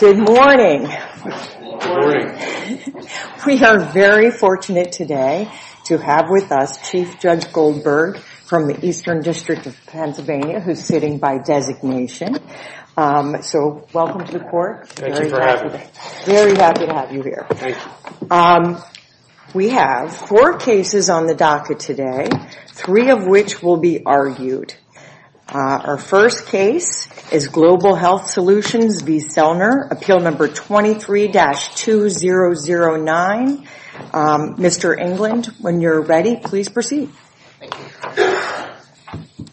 Good morning. We are very fortunate today to have with us Chief Judge Goldberg from the Eastern District of Pennsylvania who is sitting by designation. So welcome to the court. Thank you for having me. Very happy to have you here. We have four cases on the docket today, three of which will be argued. Our first case is Global Health Solutions v. Selner, appeal number 23-2009. Mr. England, when you're ready, please proceed. Thank you.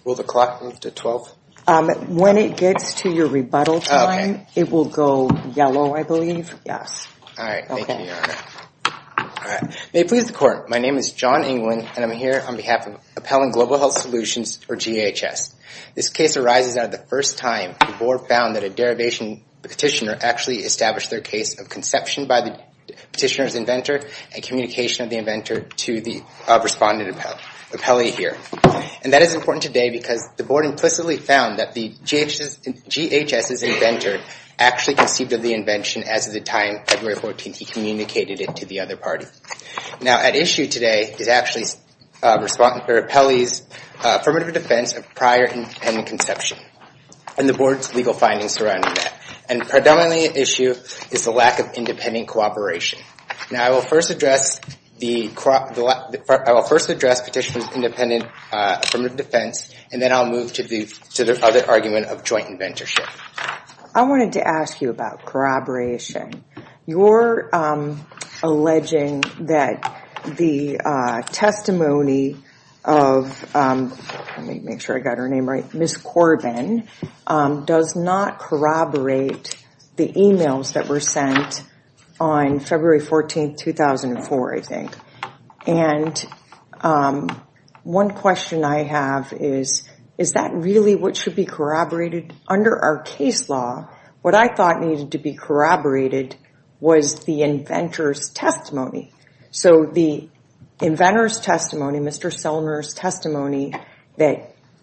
Will the clock move to 12? When it gets to your rebuttal time, it will go yellow, I believe. Yes. May it please the court, my name is John England, and I'm here on behalf of Appellant Global Health Solutions, or GHS. This case arises out of the first time the board found that a derivation petitioner actually established their case of conception by the petitioner's inventor and communication of the inventor to the respondent appellee here. And that is important today because the board implicitly found that the GHS's inventor actually conceived of the invention as of the time February 14th he communicated it to the other party. Now at issue today is actually the respondent appellee's affirmative defense of prior independent conception and the board's legal findings surrounding that. And predominantly at issue is the lack of independent cooperation. Now I will first address petitioner's independent affirmative defense, and then I'll move to the other argument of joint inventorship. I wanted to ask you about corroboration. You're alleging that the testimony of, let me make sure I got her name right, Ms. Corbin, does not corroborate the emails that were sent on February 14th, 2004, I think. And one question I have is, is that really what should be corroborated? Under our case law, what I thought needed to be corroborated was the inventor's testimony. So the inventor's testimony, Mr. Selmer's testimony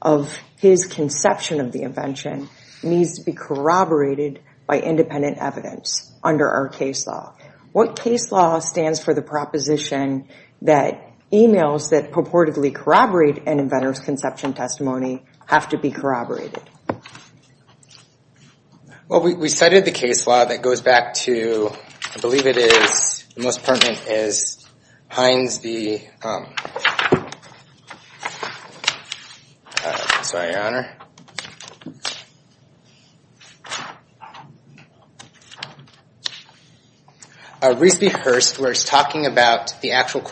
of his conception of the invention needs to be corroborated by independent evidence under our case law. What case law stands for the proposition that emails that purportedly corroborate an inventor's conception testimony have to be corroborated? Well, we cited the case law that goes back to, I believe it is, the most pertinent is Hines v. Rees v. Hurst, where it's talking about the actual,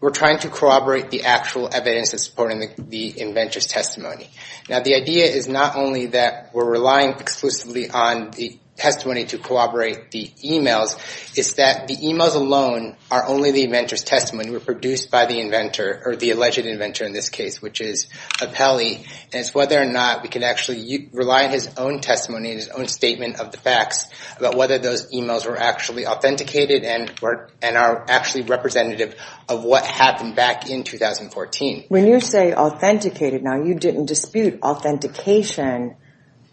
we're trying to corroborate the actual evidence that's supporting the inventor's testimony. Now, the idea is not only that we're relying exclusively on the testimony to corroborate the emails, it's that the emails alone are only the inventor's testimony. We're produced by the inventor, or the alleged inventor in this case, which is Apelli, and it's whether or not we can actually rely on his own testimony and his own statement of the facts about whether those emails were actually authenticated and are actually representative of what happened back in 2014. When you say authenticated, now, you didn't dispute authentication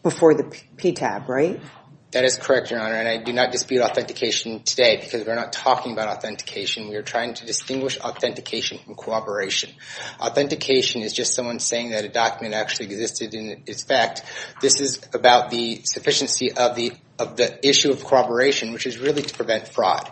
before the PTAB, right? That is correct, Your Honor, and I do not dispute authentication today because we're not talking about authentication. We are trying to distinguish authentication from corroboration. Authentication is just someone saying that a document actually existed in its fact. This is about the sufficiency of the issue of corroboration, which is really to prevent fraud.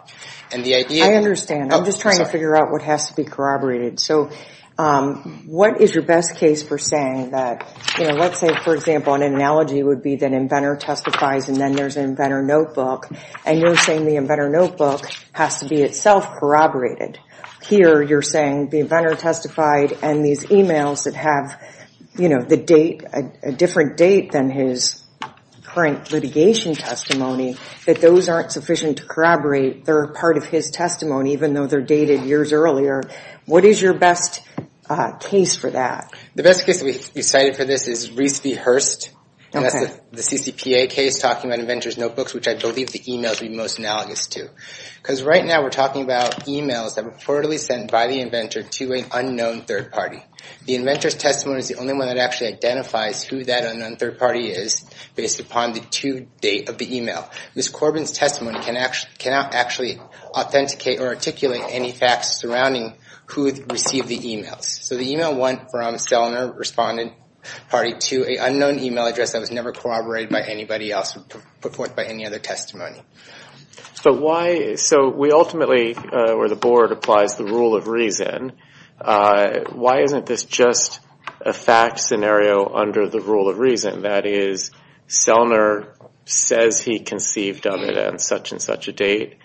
I understand. I'm just trying to figure out what has to be corroborated. So what is your best case for saying that, you know, let's say, for example, an analogy would be that an inventor testifies and then there's an inventor notebook, and you're saying the inventor notebook has to be itself corroborated. Here, you're saying the inventor testified and these emails that have, you know, the date, a different date than his current litigation testimony, that those aren't sufficient to corroborate. They're a part of his testimony, even though they're dated years earlier. What is your best case for that? The best case that we cited for this is Rees v. Hurst. That's the CCPA case talking about inventor's notebooks, which I believe the emails would be most analogous to. Because right now we're talking about emails that were reportedly sent by the inventor to an unknown third party. The inventor's testimony is the only one that actually identifies who that unknown third party is based upon the due date of the email. Ms. Corbin's testimony cannot actually authenticate or articulate any facts surrounding who received the emails. So the email went from Selner Respondent Party to an unknown email address that was never corroborated by anybody else, put forth by any other testimony. So we ultimately, or the board, applies the rule of reason. Why isn't this just a fact scenario under the rule of reason? That is, Selner says he conceived evidence at such and such a date.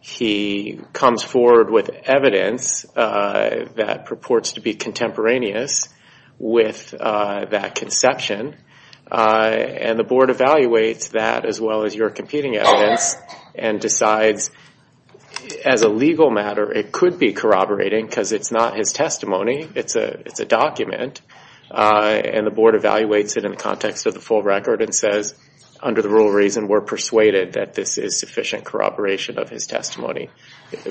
He comes forward with evidence that purports to be contemporaneous with that conception. And the board evaluates that as well as your competing evidence and decides, as a legal matter, it could be corroborating because it's not his testimony. It's a document. And the board evaluates it in the context of the full record and says, under the rule of reason, we're persuaded that this is sufficient corroboration of his testimony.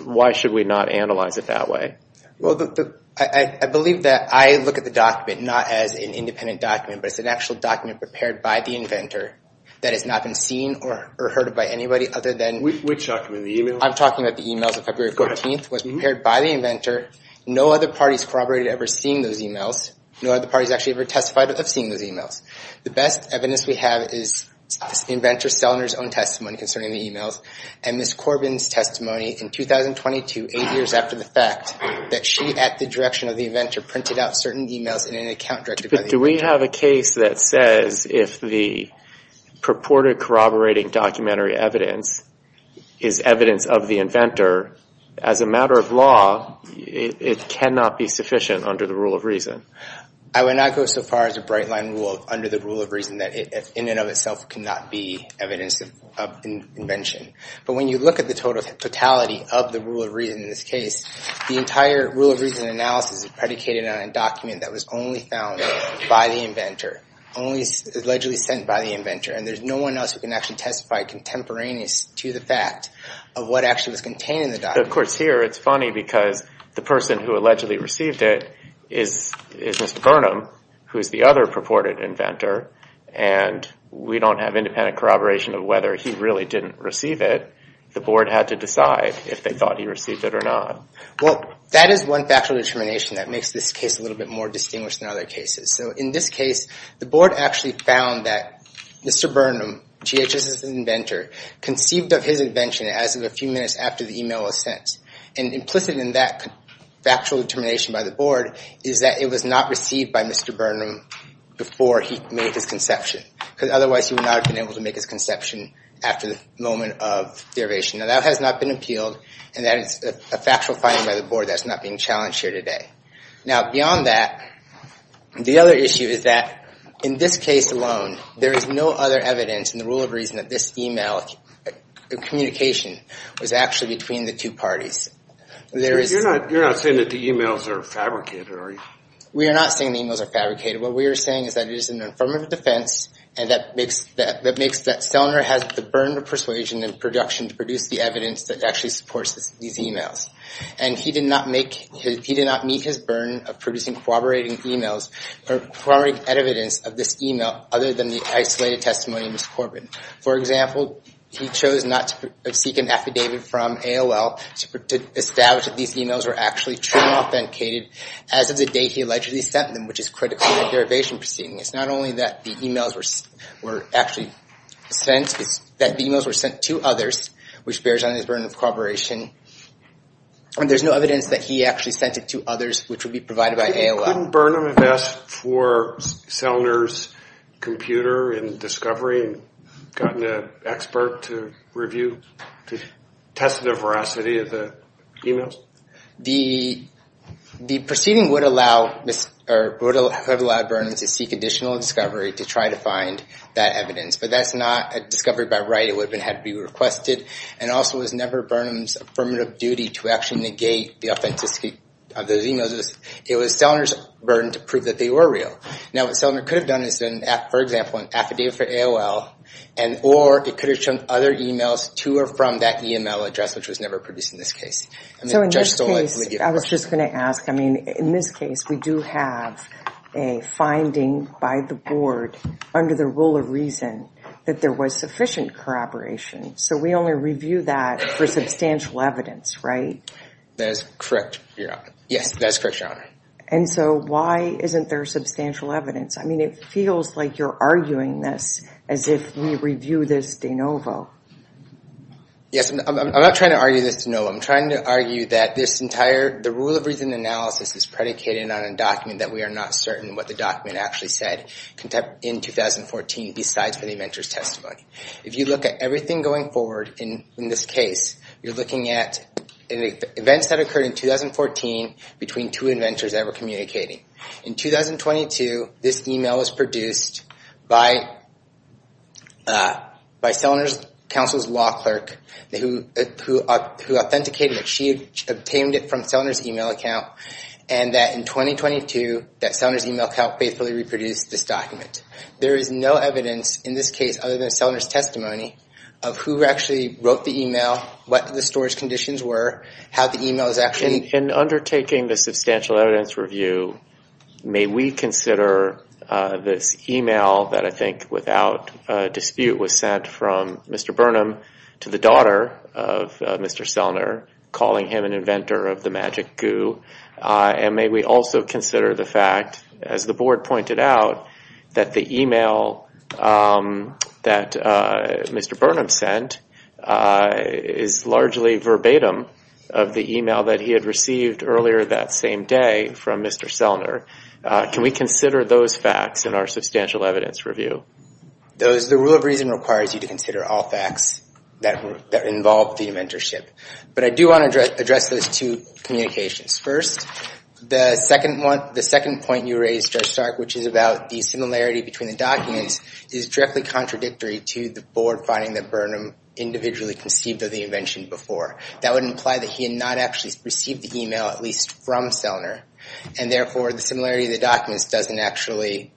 Why should we not analyze it that way? Well, I believe that I look at the document not as an independent document, but as an actual document prepared by the inventor that has not been seen or heard of by anybody other than... Which document? The email? I'm talking about the emails of February 14th. It was prepared by the inventor. No other parties corroborated ever seeing those emails. No other parties actually ever testified of seeing those emails. The best evidence we have is the inventor Selner's own testimony concerning the emails and Ms. Corbin's testimony in 2022, eight years after the fact, that she, at the direction of the inventor, printed out certain emails in an account directed by the inventor. But do we have a case that says if the purported corroborating documentary evidence is evidence of the inventor, as a matter of law, it cannot be sufficient under the rule of reason? I would not go so far as to bright-line rule under the rule of reason that it in and of itself cannot be evidence of invention. But when you look at the totality of the rule of reason in this case, the entire rule of reason analysis is predicated on a document that was only found by the inventor, only allegedly sent by the inventor, and there's no one else who can actually testify contemporaneous to the fact of what actually was contained in the document. Of course, here it's funny because the person who allegedly received it is Mr. Burnham, who is the other purported inventor, and we don't have independent corroboration of whether he really didn't receive it. The board had to decide if they thought he received it or not. Well, that is one factual determination that makes this case a little bit more distinguished than other cases. So in this case, the board actually found that Mr. Burnham, GHS's inventor, conceived of his invention as of a few minutes after the email was sent. And implicit in that factual determination by the board is that it was not received by Mr. Burnham before he made his conception, because otherwise he would not have been able to make his conception after the moment of derivation. Now, that has not been appealed, and that is a factual finding by the board that's not being challenged here today. Now, beyond that, the other issue is that in this case alone, there is no other evidence in the rule of reason that this email communication was actually between the two parties. You're not saying that the emails are fabricated, are you? We are not saying the emails are fabricated. What we are saying is that it is an affirmative defense, and that makes that Sellner has the burden of persuasion and production to produce the evidence that actually supports these emails. And he did not meet his burden of producing corroborating emails or corroborating evidence of this email other than the isolated testimony of Ms. Corbin. For example, he chose not to seek an affidavit from AOL to establish that these emails were actually true and authenticated as of the date he allegedly sent them, which is critical to the derivation proceeding. It's not only that the emails were actually sent, it's that the emails were sent to others, which bears on his burden of corroboration. And there's no evidence that he actually sent it to others, which would be provided by AOL. Couldn't Burnham have asked for Sellner's computer and discovery and gotten an expert to review, to test the veracity of the emails? The proceeding would have allowed Burnham to seek additional discovery to try to find that evidence, but that's not a discovery by right. It would have had to be requested, and also it was never Burnham's affirmative duty to actually negate the authenticity of those emails. It was Sellner's burden to prove that they were real. Now, what Sellner could have done is done, for example, an affidavit for AOL, or it could have shown other emails to or from that email address, which was never produced in this case. So in this case, I was just going to ask, I mean, in this case, we do have a finding by the board under the rule of reason that there was sufficient corroboration. So we only review that for substantial evidence, right? That is correct, Your Honor. Yes, that is correct, Your Honor. And so why isn't there substantial evidence? I mean, it feels like you're arguing this as if we review this de novo. Yes, I'm not trying to argue this de novo. I'm trying to argue that this entire, the rule of reason analysis is predicated on a document that we are not certain what the document actually said in 2014, besides for the inventor's testimony. If you look at everything going forward in this case, you're looking at events that occurred in 2014 between two inventors that were communicating. In 2022, this email was produced by Sellner's counsel's law clerk, who authenticated that she obtained it from Sellner's email account, and that in 2022, that Sellner's email account faithfully reproduced this document. There is no evidence in this case, other than Sellner's testimony, of who actually wrote the email, what the storage conditions were, how the email is actually... In undertaking the substantial evidence review, may we consider this email that I think, without dispute, was sent from Mr. Burnham to the daughter of Mr. Sellner, calling him an inventor of the magic goo. And may we also consider the fact, as the board pointed out, that the email that Mr. Burnham sent is largely verbatim of the email that he had received earlier that same day from Mr. Sellner. Can we consider those facts in our substantial evidence review? The rule of reason requires you to consider all facts that involve the inventorship. But I do want to address those two communications. First, the second point you raised, Judge Stark, which is about the similarity between the documents, is directly contradictory to the board finding that Burnham individually conceived of the invention before. That would imply that he had not actually received the email, at least from Sellner. And therefore, the similarity of the documents doesn't actually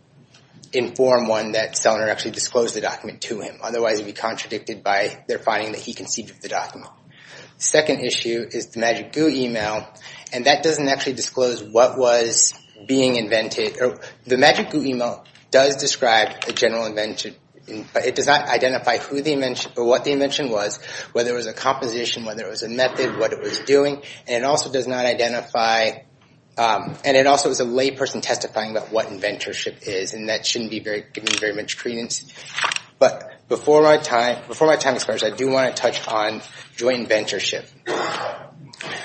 inform one that Sellner actually disclosed the document to him. Otherwise, it would be contradicted by their finding that he conceived of the document. The second issue is the magic goo email, and that doesn't actually disclose what was being invented. The magic goo email does describe a general invention, but it does not identify what the invention was, whether it was a composition, whether it was a method, what it was doing. And it also is a layperson testifying about what inventorship is, and that shouldn't be given very much credence. But before my time expires, I do want to touch on joint inventorship,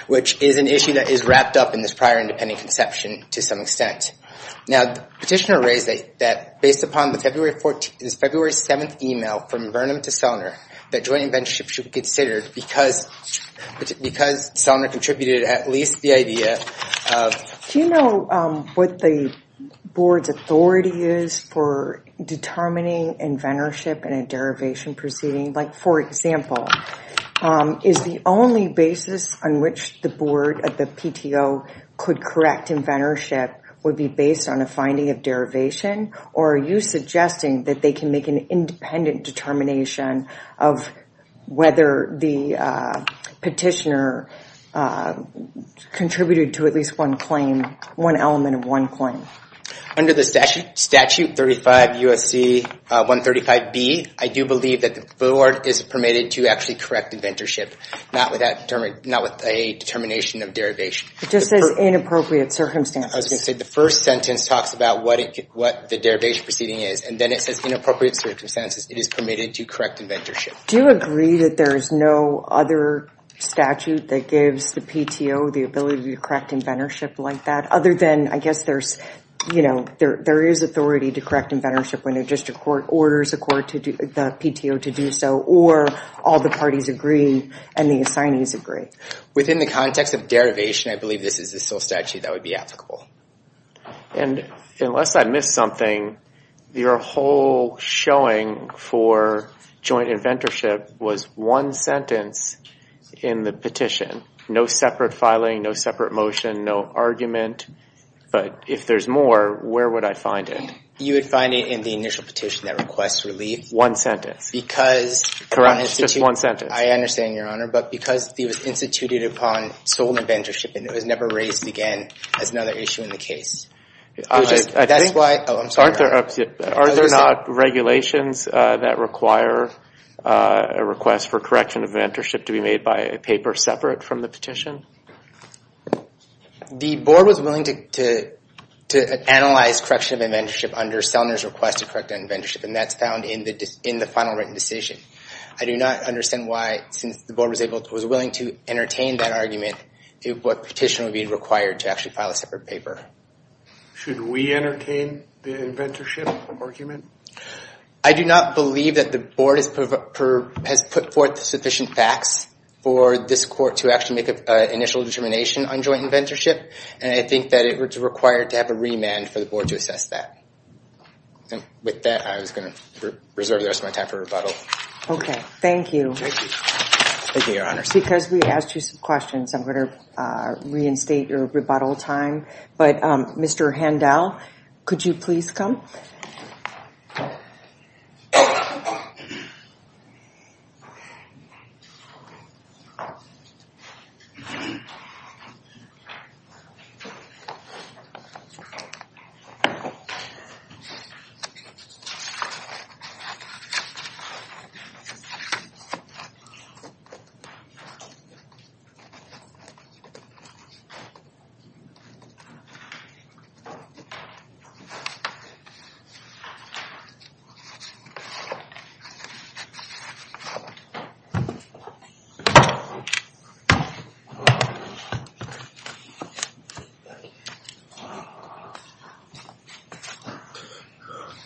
which is an issue that is wrapped up in this prior independent conception to some extent. Now, the petitioner raised that, based upon this February 7th email from Burnham to Sellner, that joint inventorship should be considered because Sellner conceived of the invention. And Sellner contributed at least the idea of... Do you know what the board's authority is for determining inventorship in a derivation proceeding? Like, for example, is the only basis on which the board at the PTO could correct inventorship would be based on a finding of derivation? Or are you suggesting that they can make an independent determination of whether the petitioner conceived of the invention? Contributed to at least one claim, one element of one claim. Under the statute 35 U.S.C. 135B, I do believe that the board is permitted to actually correct inventorship, not with a determination of derivation. It just says inappropriate circumstances. I was going to say the first sentence talks about what the derivation proceeding is, and then it says inappropriate circumstances. It is permitted to correct inventorship. Do you agree that there is no other statute that gives the PTO the ability to correct inventorship like that? Other than, I guess there is authority to correct inventorship when a district court orders the PTO to do so, or all the parties agree and the assignees agree? Within the context of derivation, I believe this is the sole statute that would be applicable. Unless I missed something, your whole showing for joint inventorship was one sentence in the petition. No separate filing, no separate motion, no argument, but if there is more, where would I find it? You would find it in the initial petition that requests relief. Correct, just one sentence. Are there not regulations that require a request for correction of inventorship to be made by a paper separate from the petition? The board was willing to analyze correction of inventorship under Sellner's request to correct inventorship. That is found in the final written decision. Should we entertain the inventorship argument? I think that is going to reserve the rest of my time for rebuttal. Thank you. Because we asked you some questions, I am going to reinstate your rebuttal time. Mr. Handel, could you please come?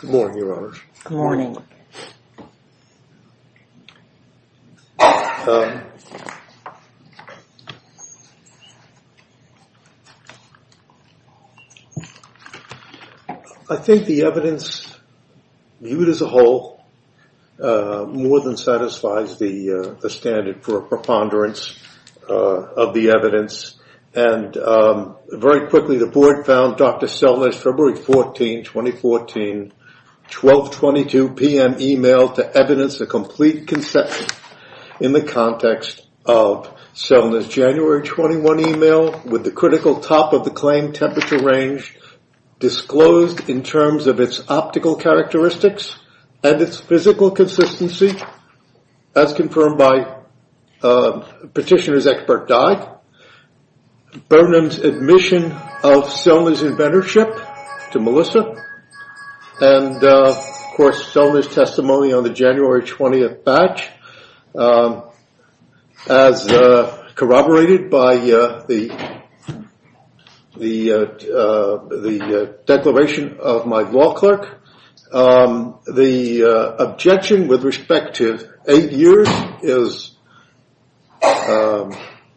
Good morning, Your Honor. Good morning. I think the evidence viewed as a whole more than satisfies the standard for preponderance of the evidence. Very quickly, the board found Dr. Sellner's February 14, 2014, 1222 PM email to evidence a complete conception in the context of Sellner's January 21 email with the critical top of the claim temperature range disclosed in terms of its optical characteristics and its physical consistency as confirmed by Petitioner's Expert Diag. Burnham's admission of Sellner's inventorship to Melissa and of course Sellner's testimony on the January 20th batch as corroborated by the confirmation of my law clerk. The objection with respect to eight years is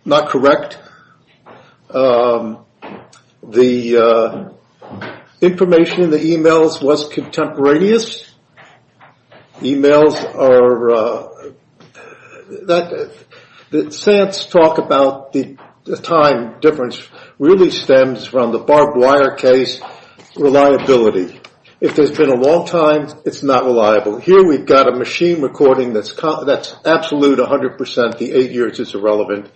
not correct. The information in the emails was contemporaneous. Emails are... Sants talk about the time difference really stems from the barbed wire case reliability. If there's been a long time, it's not reliable. Here we've got a machine recording that's absolute 100% the eight years is irrelevant.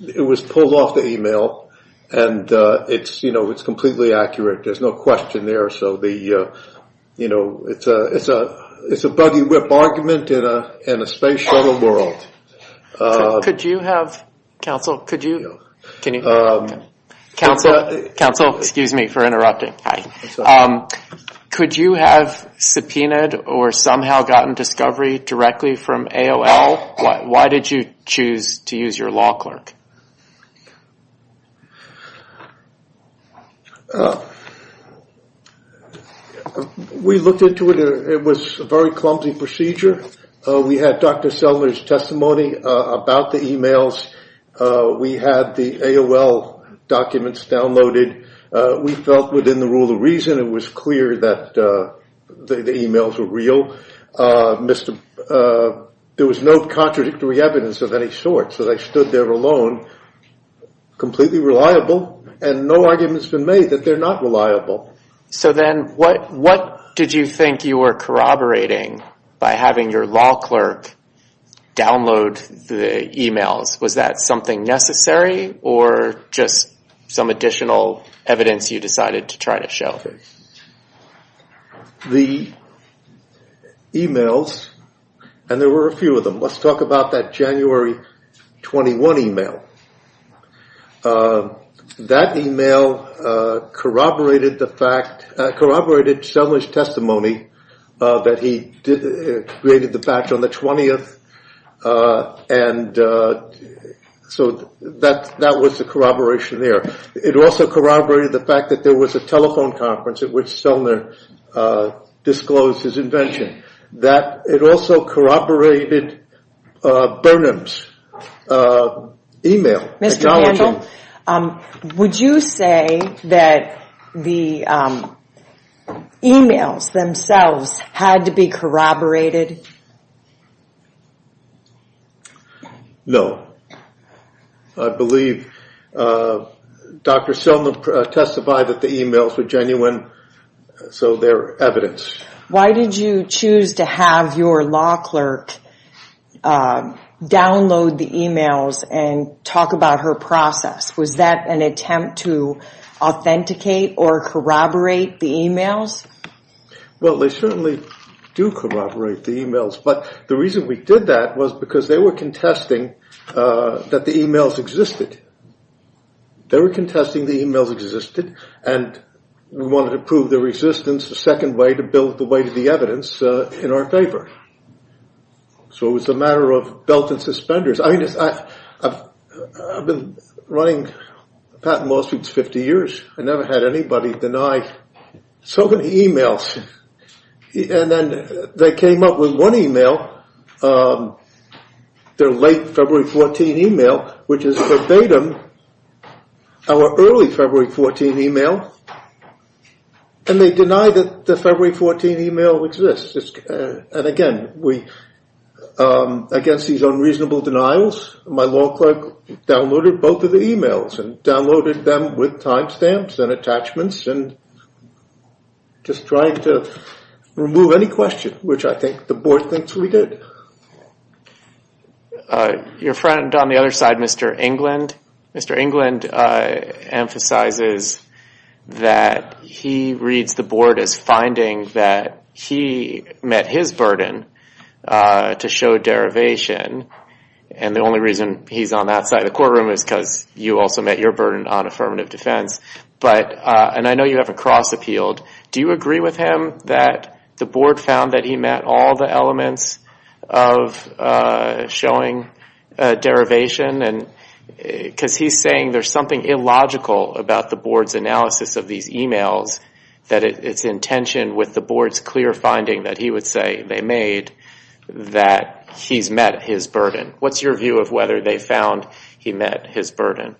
It was pulled off the email and it's completely accurate. There's no question there. It's a buggy whip argument in a space shuttle world. Could you have subpoenaed or somehow gotten discovery directly from AOL? Why did you choose to use your law clerk? We looked into it. It was a very clumsy procedure. We had Dr. Sellner's testimony about the emails. We had the AOL documents downloaded. We felt within the rule of reason it was clear that the emails were real. There was no contradictory evidence of any sort. They stood there alone, completely reliable, and no argument has been made that they're not reliable. What did you think you were corroborating by having your law clerk download the emails? Was that something necessary or just some additional evidence you decided to try to show? The emails, and there were a few of them. Let's talk about that January 21 email. That email corroborated the fact, corroborated Sellner's testimony that he created the batch on the 20th. So that was the corroboration there. It also corroborated the fact that there was a telephone conference at which Sellner disclosed his invention. It also corroborated Burnham's email. Mr. Handel, would you say that the emails themselves had to be corroborated? No. I believe Dr. Sellner testified that the emails were genuine, so they're evidence. Why did you choose to have your law clerk download the emails and talk about her process? Was that an attempt to authenticate or corroborate the emails? Well, they certainly do corroborate the emails, but the reason we did that was because they were contesting that the emails existed. They were contesting the emails existed and we wanted to prove their existence, the second way to build the weight of the evidence in our favor. So it was a matter of belt and suspenders. I've been running Patent and Lawsuits for 50 years. I've never had anybody deny so many emails. And then they came up with one email, their late February 14 email, which is verbatim our early February 14 email. And they denied that the February 14 email exists. And again, against these unreasonable denials, my law clerk downloaded both of the emails and downloaded them with time stamps and attachments and just tried to remove any question, which I think the board thinks we did. Your friend on the other side, Mr. England. Mr. England emphasizes that he reads the board as finding that he met his burden to show derivation. And the only reason he's on that side of the courtroom is because you also met your burden on affirmative defense. And I know you have a cross appealed. Do you agree with him that the board found that he met all the elements of showing derivation? Because he's saying there's something illogical about the board's analysis of these emails, that it's in tension with the board's clear finding that he would say they made that he's met his burden. What's your view of whether they found he met his burden?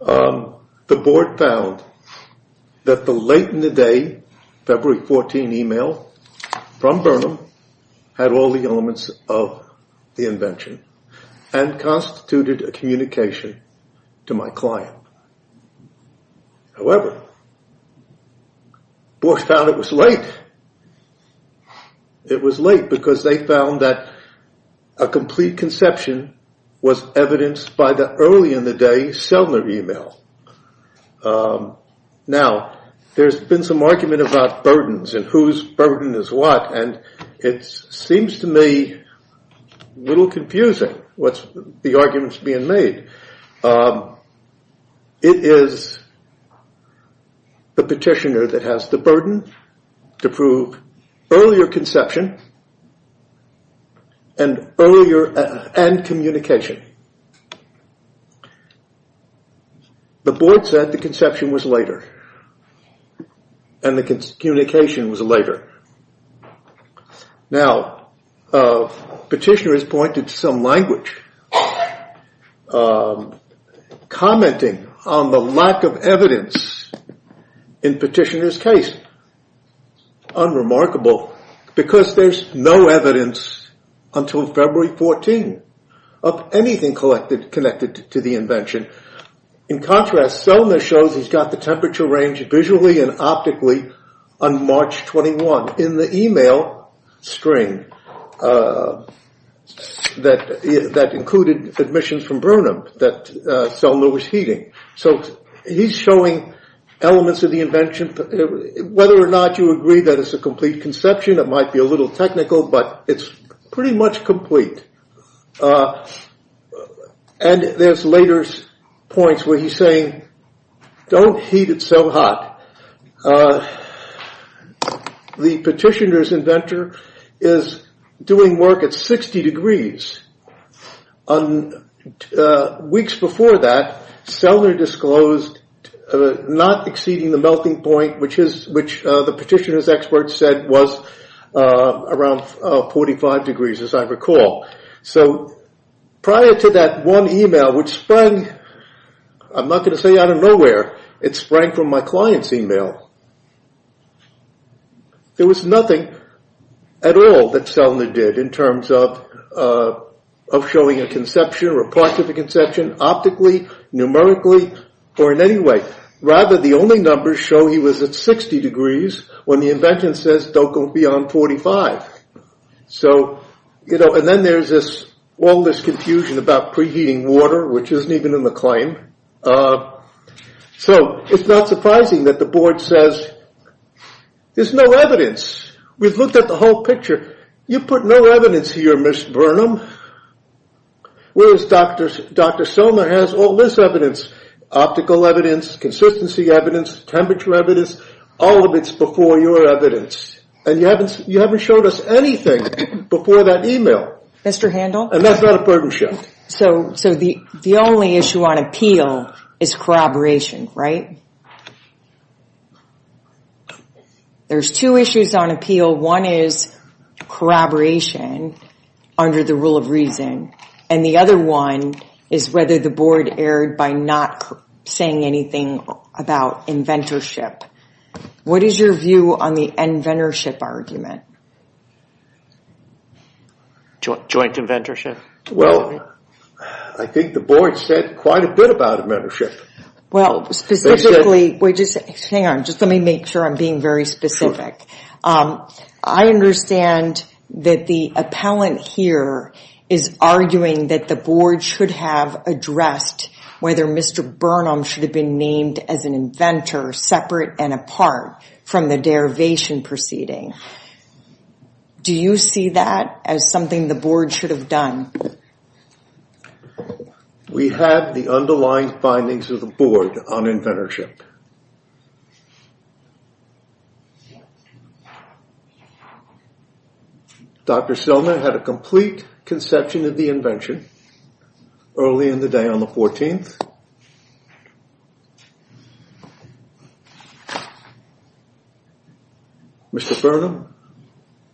The board found that the late in the day February 14 email from Burnham had all the elements of the invention and constituted a communication to my client. However, the board found it was late. It was late because they found that a complete conception was evidenced by the early in the day Sellner email. Now, there's been some argument about burdens and whose burden is what and it seems to me a little confusing. What's the arguments being made? It is the petitioner that has the burden to prove earlier conception and earlier and communication. The board said the conception was later. And the communication was later. Now, petitioner has pointed to some language commenting on the lack of evidence in petitioner's case. Unremarkable because there's no evidence until February 14 of anything connected to the invention. In contrast, Sellner shows he's got the temperature range visually and optically on March 21 in the email string that included admissions from Burnham that Sellner was heeding. So, he's showing elements of the invention whether or not you agree that it's a complete conception. It might be a little technical, but it's pretty much complete. And there's later points where he's saying don't heat it so hot. The petitioner's inventor is doing work at 60 degrees. Weeks before that, Sellner disclosed not exceeding the melting point which the petitioner's expert said was around 45 degrees as I recall. So, prior to that one email which sprang, I'm not going to say out of nowhere, it sprang from my client's email. There was nothing at all that Sellner did in terms of showing a conception or a part of a conception optically, numerically, or in any way. Rather, the only numbers show he was at 60 degrees when the invention says don't go beyond 45. And then there's all this confusion about preheating water, which isn't even in the claim. So, it's not surprising that the board says there's no evidence. We've looked at the whole picture. You put no evidence here, Ms. Burnham. Whereas Dr. Sellner has all this evidence. Optical evidence, consistency evidence, temperature evidence, all of it's before your evidence. And you haven't showed us anything before that email. And that's not a partnership. So, the only issue on appeal is corroboration, right? There's two issues on appeal. One is corroboration under the rule of reason. And the other one is whether the board erred by not saying anything about inventorship. What is your view on the inventorship argument? Joint inventorship? I think the board said quite a bit about inventorship. Hang on. Let me make sure I'm being very specific. I understand that the talent here is arguing that the board should have addressed whether Mr. Burnham should have been named as an inventor separate and apart from the derivation proceeding. Do you see that as something the board should have done? We have the underlying findings of the board on inventorship. Dr. Sellner had a complete conception of the invention early in the day on the 14th. Mr. Burnham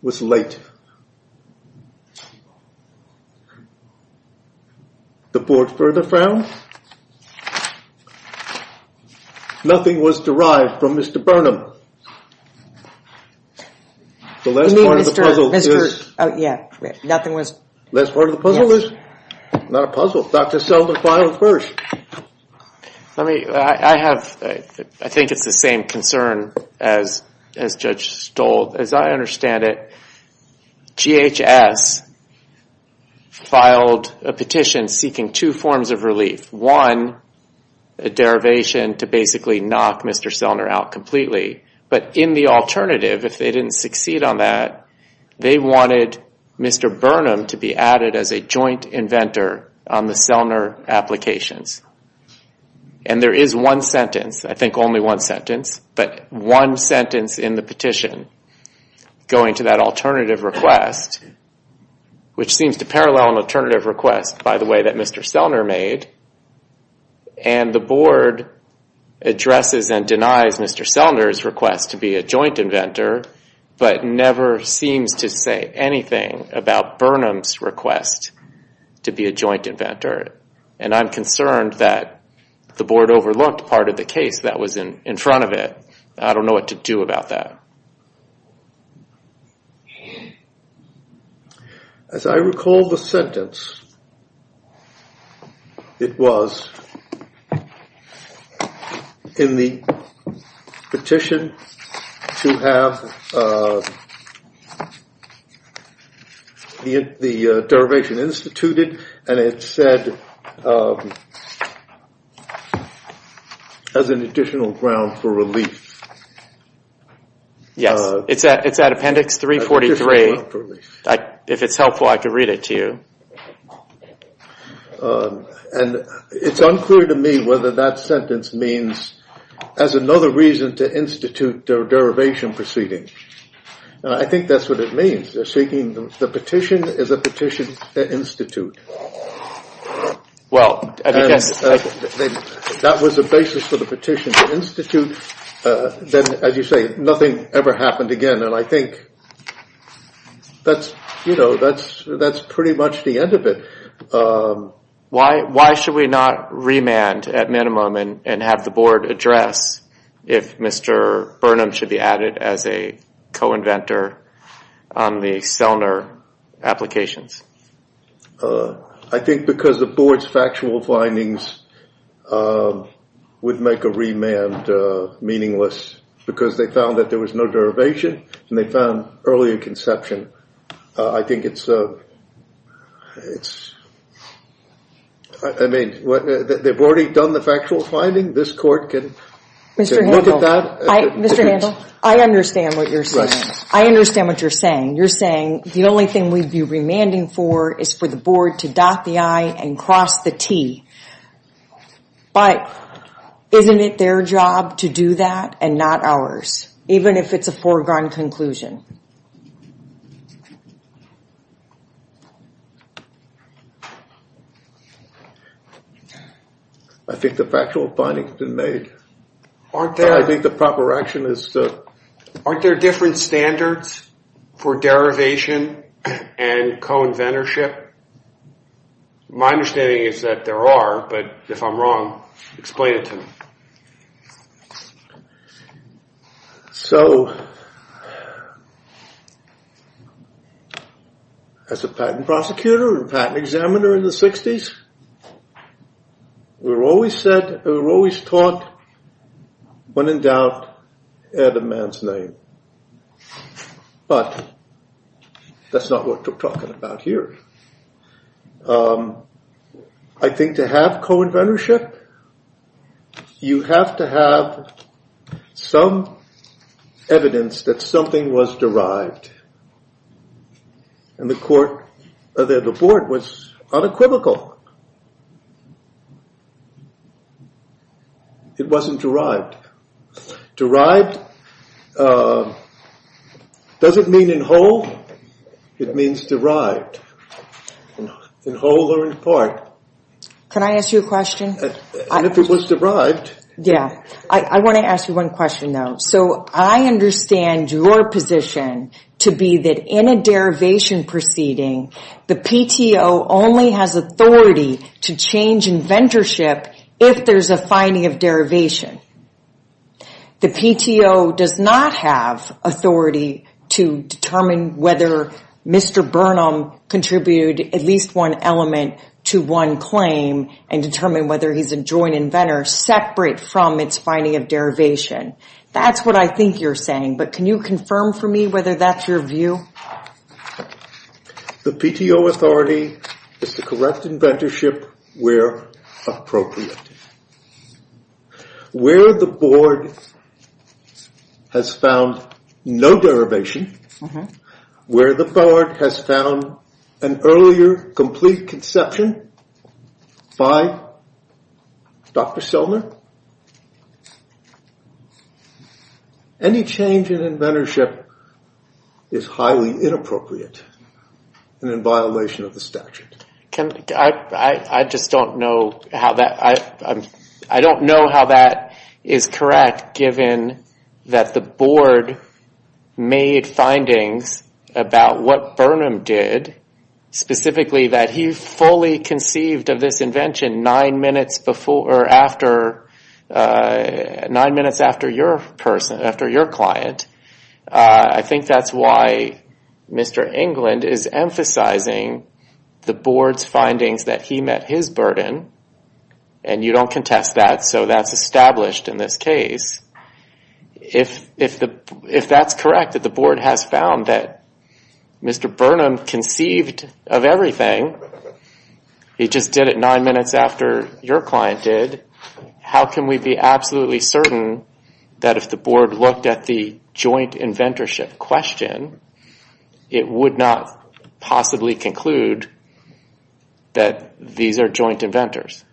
was late. The board further frowned. Nothing was derived from Mr. Burnham. The last part of the puzzle is... Not a puzzle. Dr. Sellner filed first. I think it's the same concern as Judge Stoll. As I understand it, GHS filed a petition seeking two forms of relief. One, a derivation to basically knock Mr. Sellner out completely. But in the alternative, if they didn't succeed on that, they wanted Mr. Burnham to be added as a joint inventor on the Sellner applications. There is one sentence, I think only one sentence, but one sentence in the petition going to that alternative request, which seems to parallel an alternative request, by the way, that Mr. Sellner made. The board addresses and denies Mr. Sellner's request to be a joint inventor, but never seems to say anything about Burnham's request to be a joint inventor. And I'm concerned that the board overlooked part of the case that was in front of it. I don't know what to do about that. As I recall the sentence, it was in the petition to have the derivation instituted, and it said as an additional ground for relief. Yes, it's at appendix 343. If it's helpful, I can read it to you. And it's unclear to me whether that sentence means as another reason to institute a derivation proceeding. I think that's what it means. The petition is a petition to institute. That was the basis for the petition to institute. As you say, nothing ever happened again, and I think that's pretty much the end of it. Why should we not remand at minimum and have the board address if Mr. Burnham should be added as a co-inventor on the Sellner applications? I think because the board's factual findings would make a remand meaningless, because they found that there was no derivation, and they found earlier conception. I think it's I mean, they've already done the factual finding. This court can look at that. Mr. Handel, I understand what you're saying. I understand what you're saying. You're saying the only thing we'd be remanding for is for the board to dot the I and cross the T. But isn't it their job to do that and not ours, even if it's a foregone conclusion? I think the factual findings have been made. Aren't there different standards for derivation and co-inventorship? My understanding is that there are, but if I'm wrong, explain it to me. So, as a patent prosecutor and patent examiner in the 60s, we were always taught when in doubt, add a man's name. But that's not what we're talking about here. I think to have co-inventorship, you have to have some evidence that something was derived. And the board was unequivocal. It wasn't derived. Derived doesn't mean in whole. It means derived. In whole or in part. Can I ask you a question? Yeah. I want to ask you one question, though. So, I understand your position to be that in a derivation proceeding, the PTO only has authority to change inventorship if there's a finding of derivation. The PTO does not have authority to determine whether Mr. Burnham contributed at least one element to one claim and determine whether he's a joint inventor separate from its finding of derivation. That's what I think you're saying. But can you confirm for me Inventorship where appropriate. Where the board has found no derivation. Where the board has found an earlier complete conception by Dr. Silner. Any change in inventorship is highly inappropriate and in violation of the statute. I just don't know how that. I don't know how that is correct given that the board made findings about what Burnham did. Specifically that he fully conceived of this invention nine minutes nine minutes after your client. I think that's why Mr. England is emphasizing the board's findings that he met his burden. And you don't contest that, so that's established in this case. If that's correct, that the board has found that Mr. Burnham conceived of everything. He just did it nine minutes after your client did. How can we be absolutely certain that if the board looked at the joint inventorship question, it would not possibly conclude that these are joint inventors?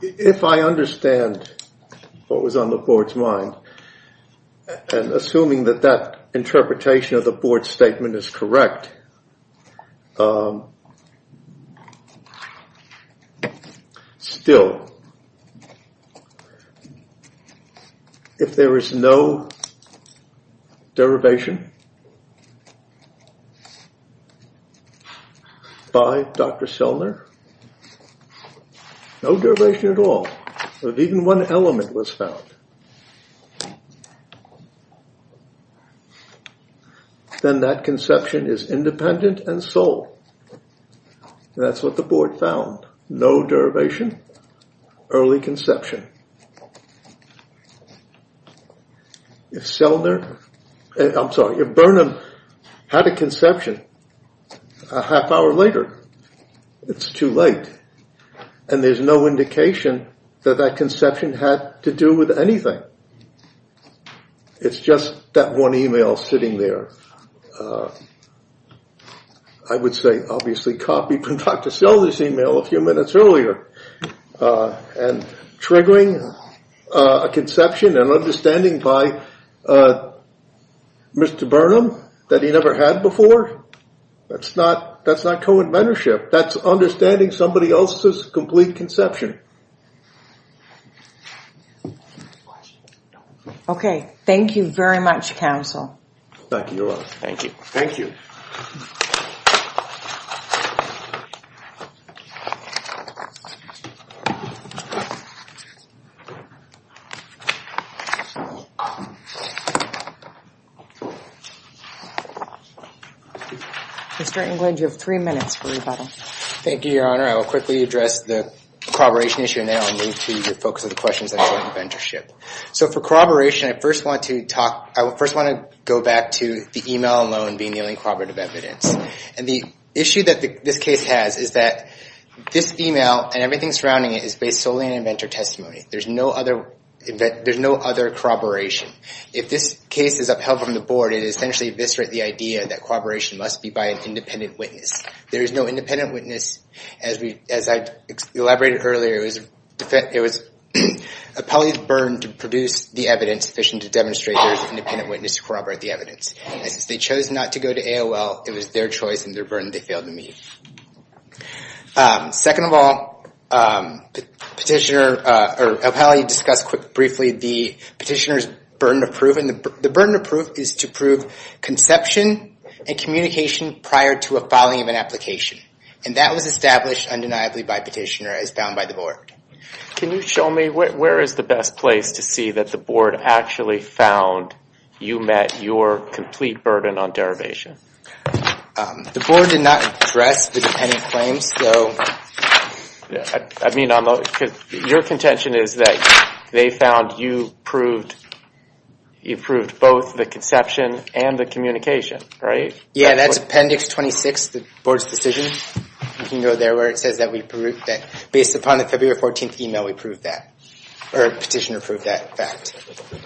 If I understand what was on the board's mind and assuming that that interpretation of the board's statement is correct still if there is no derivation by Dr. Silner no derivation at all, if even one element was found then that conception is independent and sold. That's what the board found. No derivation. Early conception. If Burnham had a conception a half hour later it's too late. And there's no indication that that conception had to do with anything. It's just that one email sitting there. I would say obviously copy from Dr. Silner's email a few minutes earlier and triggering a conception and understanding by Mr. Burnham that he never had before. That's not co-inventorship. That's Okay. Thank you very much, counsel. Thank you. Thank you. Mr. Englund, you have three minutes for rebuttal. Thank you, Your Honor. I will quickly address the corroboration issue now and move to the focus of the questions on joint inventorship. So for corroboration I first want to talk I first want to go back to the email alone being the only corroborative evidence. And the issue that this case has is that this email and everything surrounding it is based solely on inventor testimony. There's no other there's no other corroboration. If this case is upheld from the board it essentially eviscerates the idea that corroboration must be by an independent witness. There is no independent witness as I elaborated earlier. It was appellee's burden to produce the evidence sufficient to demonstrate there is an independent witness to corroborate the evidence. And since they chose not to go to AOL it was their choice and their burden they failed to meet. Second of all, petitioner or appellee discussed briefly the petitioner's burden of proof. And the burden of proof is to prove conception and communication prior to a filing of an application. And that was established undeniably by petitioner as found by the board. Can you show me where is the best place to see that the board actually found you met your complete burden on derivation? The board did not address the dependent claims though. I mean, your contention is that they found you proved both the conception and the communication, right? Yeah, that's appendix 26, the board's decision. You can go there where it says that based upon the February 14th email we proved that. Or petitioner proved that fact.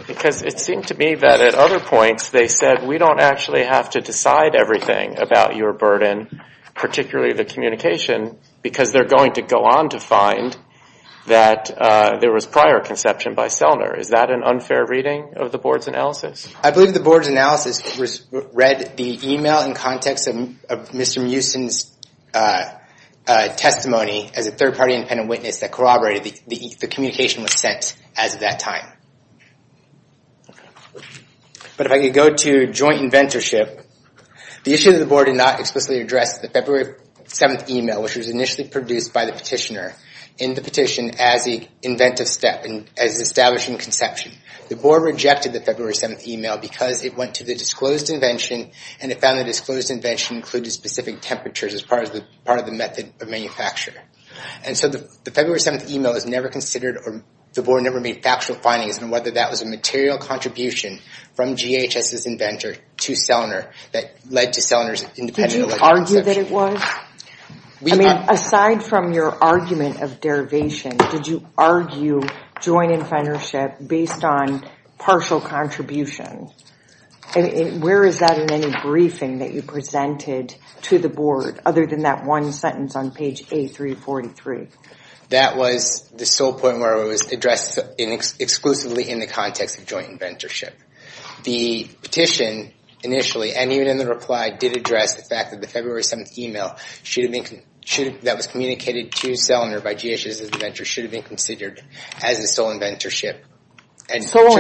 Because it seemed to me that at other points they said we don't actually have to decide everything about your burden, particularly the communication, because they're going to go on to find that there was prior conception by Sellner. Is that an unfair reading of the board's analysis? I believe the board's analysis read the email in context of Mr. Mewson's testimony as a third party independent witness that corroborated the communication was sent as of that time. But if I could go to joint inventorship, the issue of the board did not explicitly address the February 7th email, which was initially produced by the petitioner in the petition as the inventive step as established in conception. The board rejected the February 7th email because it went to the disclosed invention and it found that disclosed invention included specific temperatures as part of the method of manufacture. And so the February 7th email is never considered or the board never made factual findings on whether that was a material contribution from GHS's inventor to Sellner that led to Sellner's independent alleged conception. Did you argue that it was? Aside from your argument of derivation, did you argue joint inventorship based on partial contribution? And where is that in any briefing that you presented to the board other than that one sentence on page A343? That was the sole point where it was addressed exclusively in the context of joint inventorship. The petition initially, and even in the reply, did address the fact that the February 7th email that was communicated to Sellner by GHS's inventor should have been considered as a sole inventorship. But what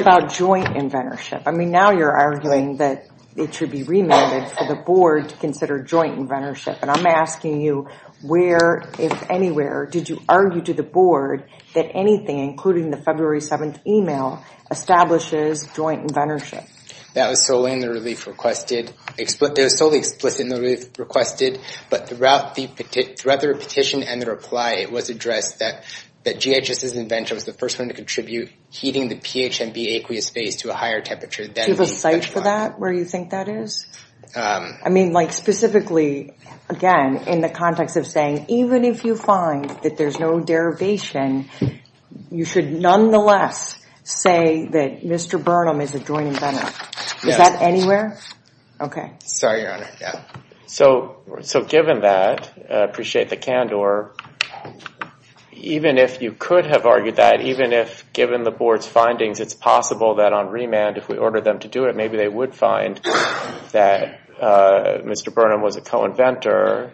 about joint inventorship? I mean, now you're arguing that it should be remanded for the board to consider joint inventorship. And I'm asking you where, if anywhere, did you argue to the board that anything, including the February 7th email, establishes joint inventorship? That was solely in the relief requested. It was solely explicit in the relief requested. But throughout the petition and the reply, it was addressed that GHS's inventor was the first one to contribute heating the PHMB aqueous phase to a higher temperature. Do you have a site for that, where you think that is? I mean, like, specifically, again, in the context of saying, even if you find that there's no derivation, you should nonetheless say that Mr. Burnham is a joint inventor. Is that anywhere? So given that, I appreciate the candor, even if you could have argued that, even if given the board's findings, it's possible that on remand, if we ordered them to do it, maybe they would find that Mr. Burnham was a co-inventor.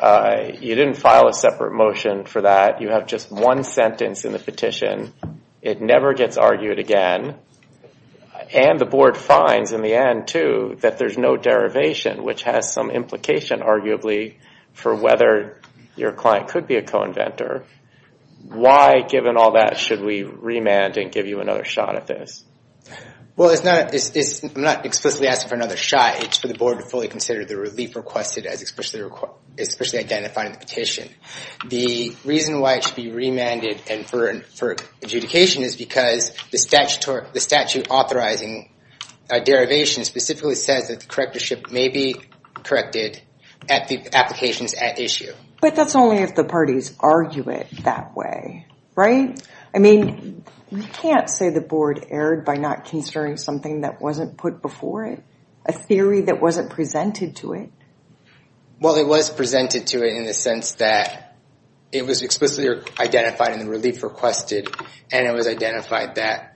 You didn't file a separate motion for that. You have just one sentence in the petition. It never gets argued again. And the board finds, in the end, too, that there's no derivation, which has some implication, arguably, for whether your client could be a co-inventor. Why, given all that, should we remand and give you another shot at this? Well, I'm not explicitly asking for another shot. It's for the board to fully consider the relief requested, especially identifying the petition. The reason why it should be remanded and for adjudication is because the statute authorizing a derivation specifically says that the correctorship may be corrected at the applications at issue. But that's only if the parties argue it that way, right? I mean, we can't say the board erred by not considering something that wasn't put before it, a theory that wasn't presented to it. Well, it was presented to it in the sense that it was explicitly identified in the relief requested, and it was identified that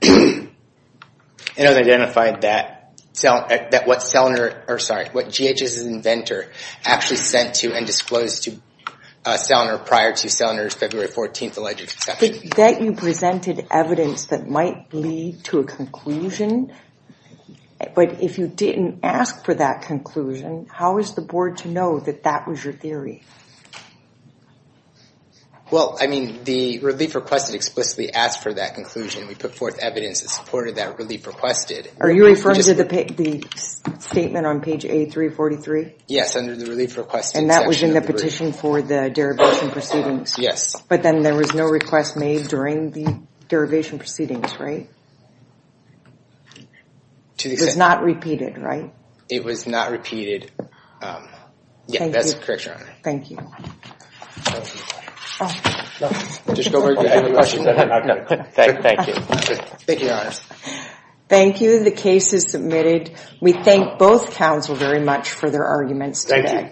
what GHS's inventor actually sent to and disclosed to Sellner prior to Sellner's February 14th alleged exception. That you presented evidence that might lead to a conclusion? But if you didn't ask for that conclusion, how is the board to know that that was your theory? Well, I mean, the relief requested explicitly asked for that conclusion. We put forth evidence that supported that relief requested. Are you referring to the statement on page A343? Yes, under the relief requested section. It was in the petition for the derivation proceedings? Yes. But then there was no request made during the derivation proceedings, right? It was not repeated, right? It was not repeated. Thank you. Thank you. The case is submitted. We thank both counsel very much for their arguments today.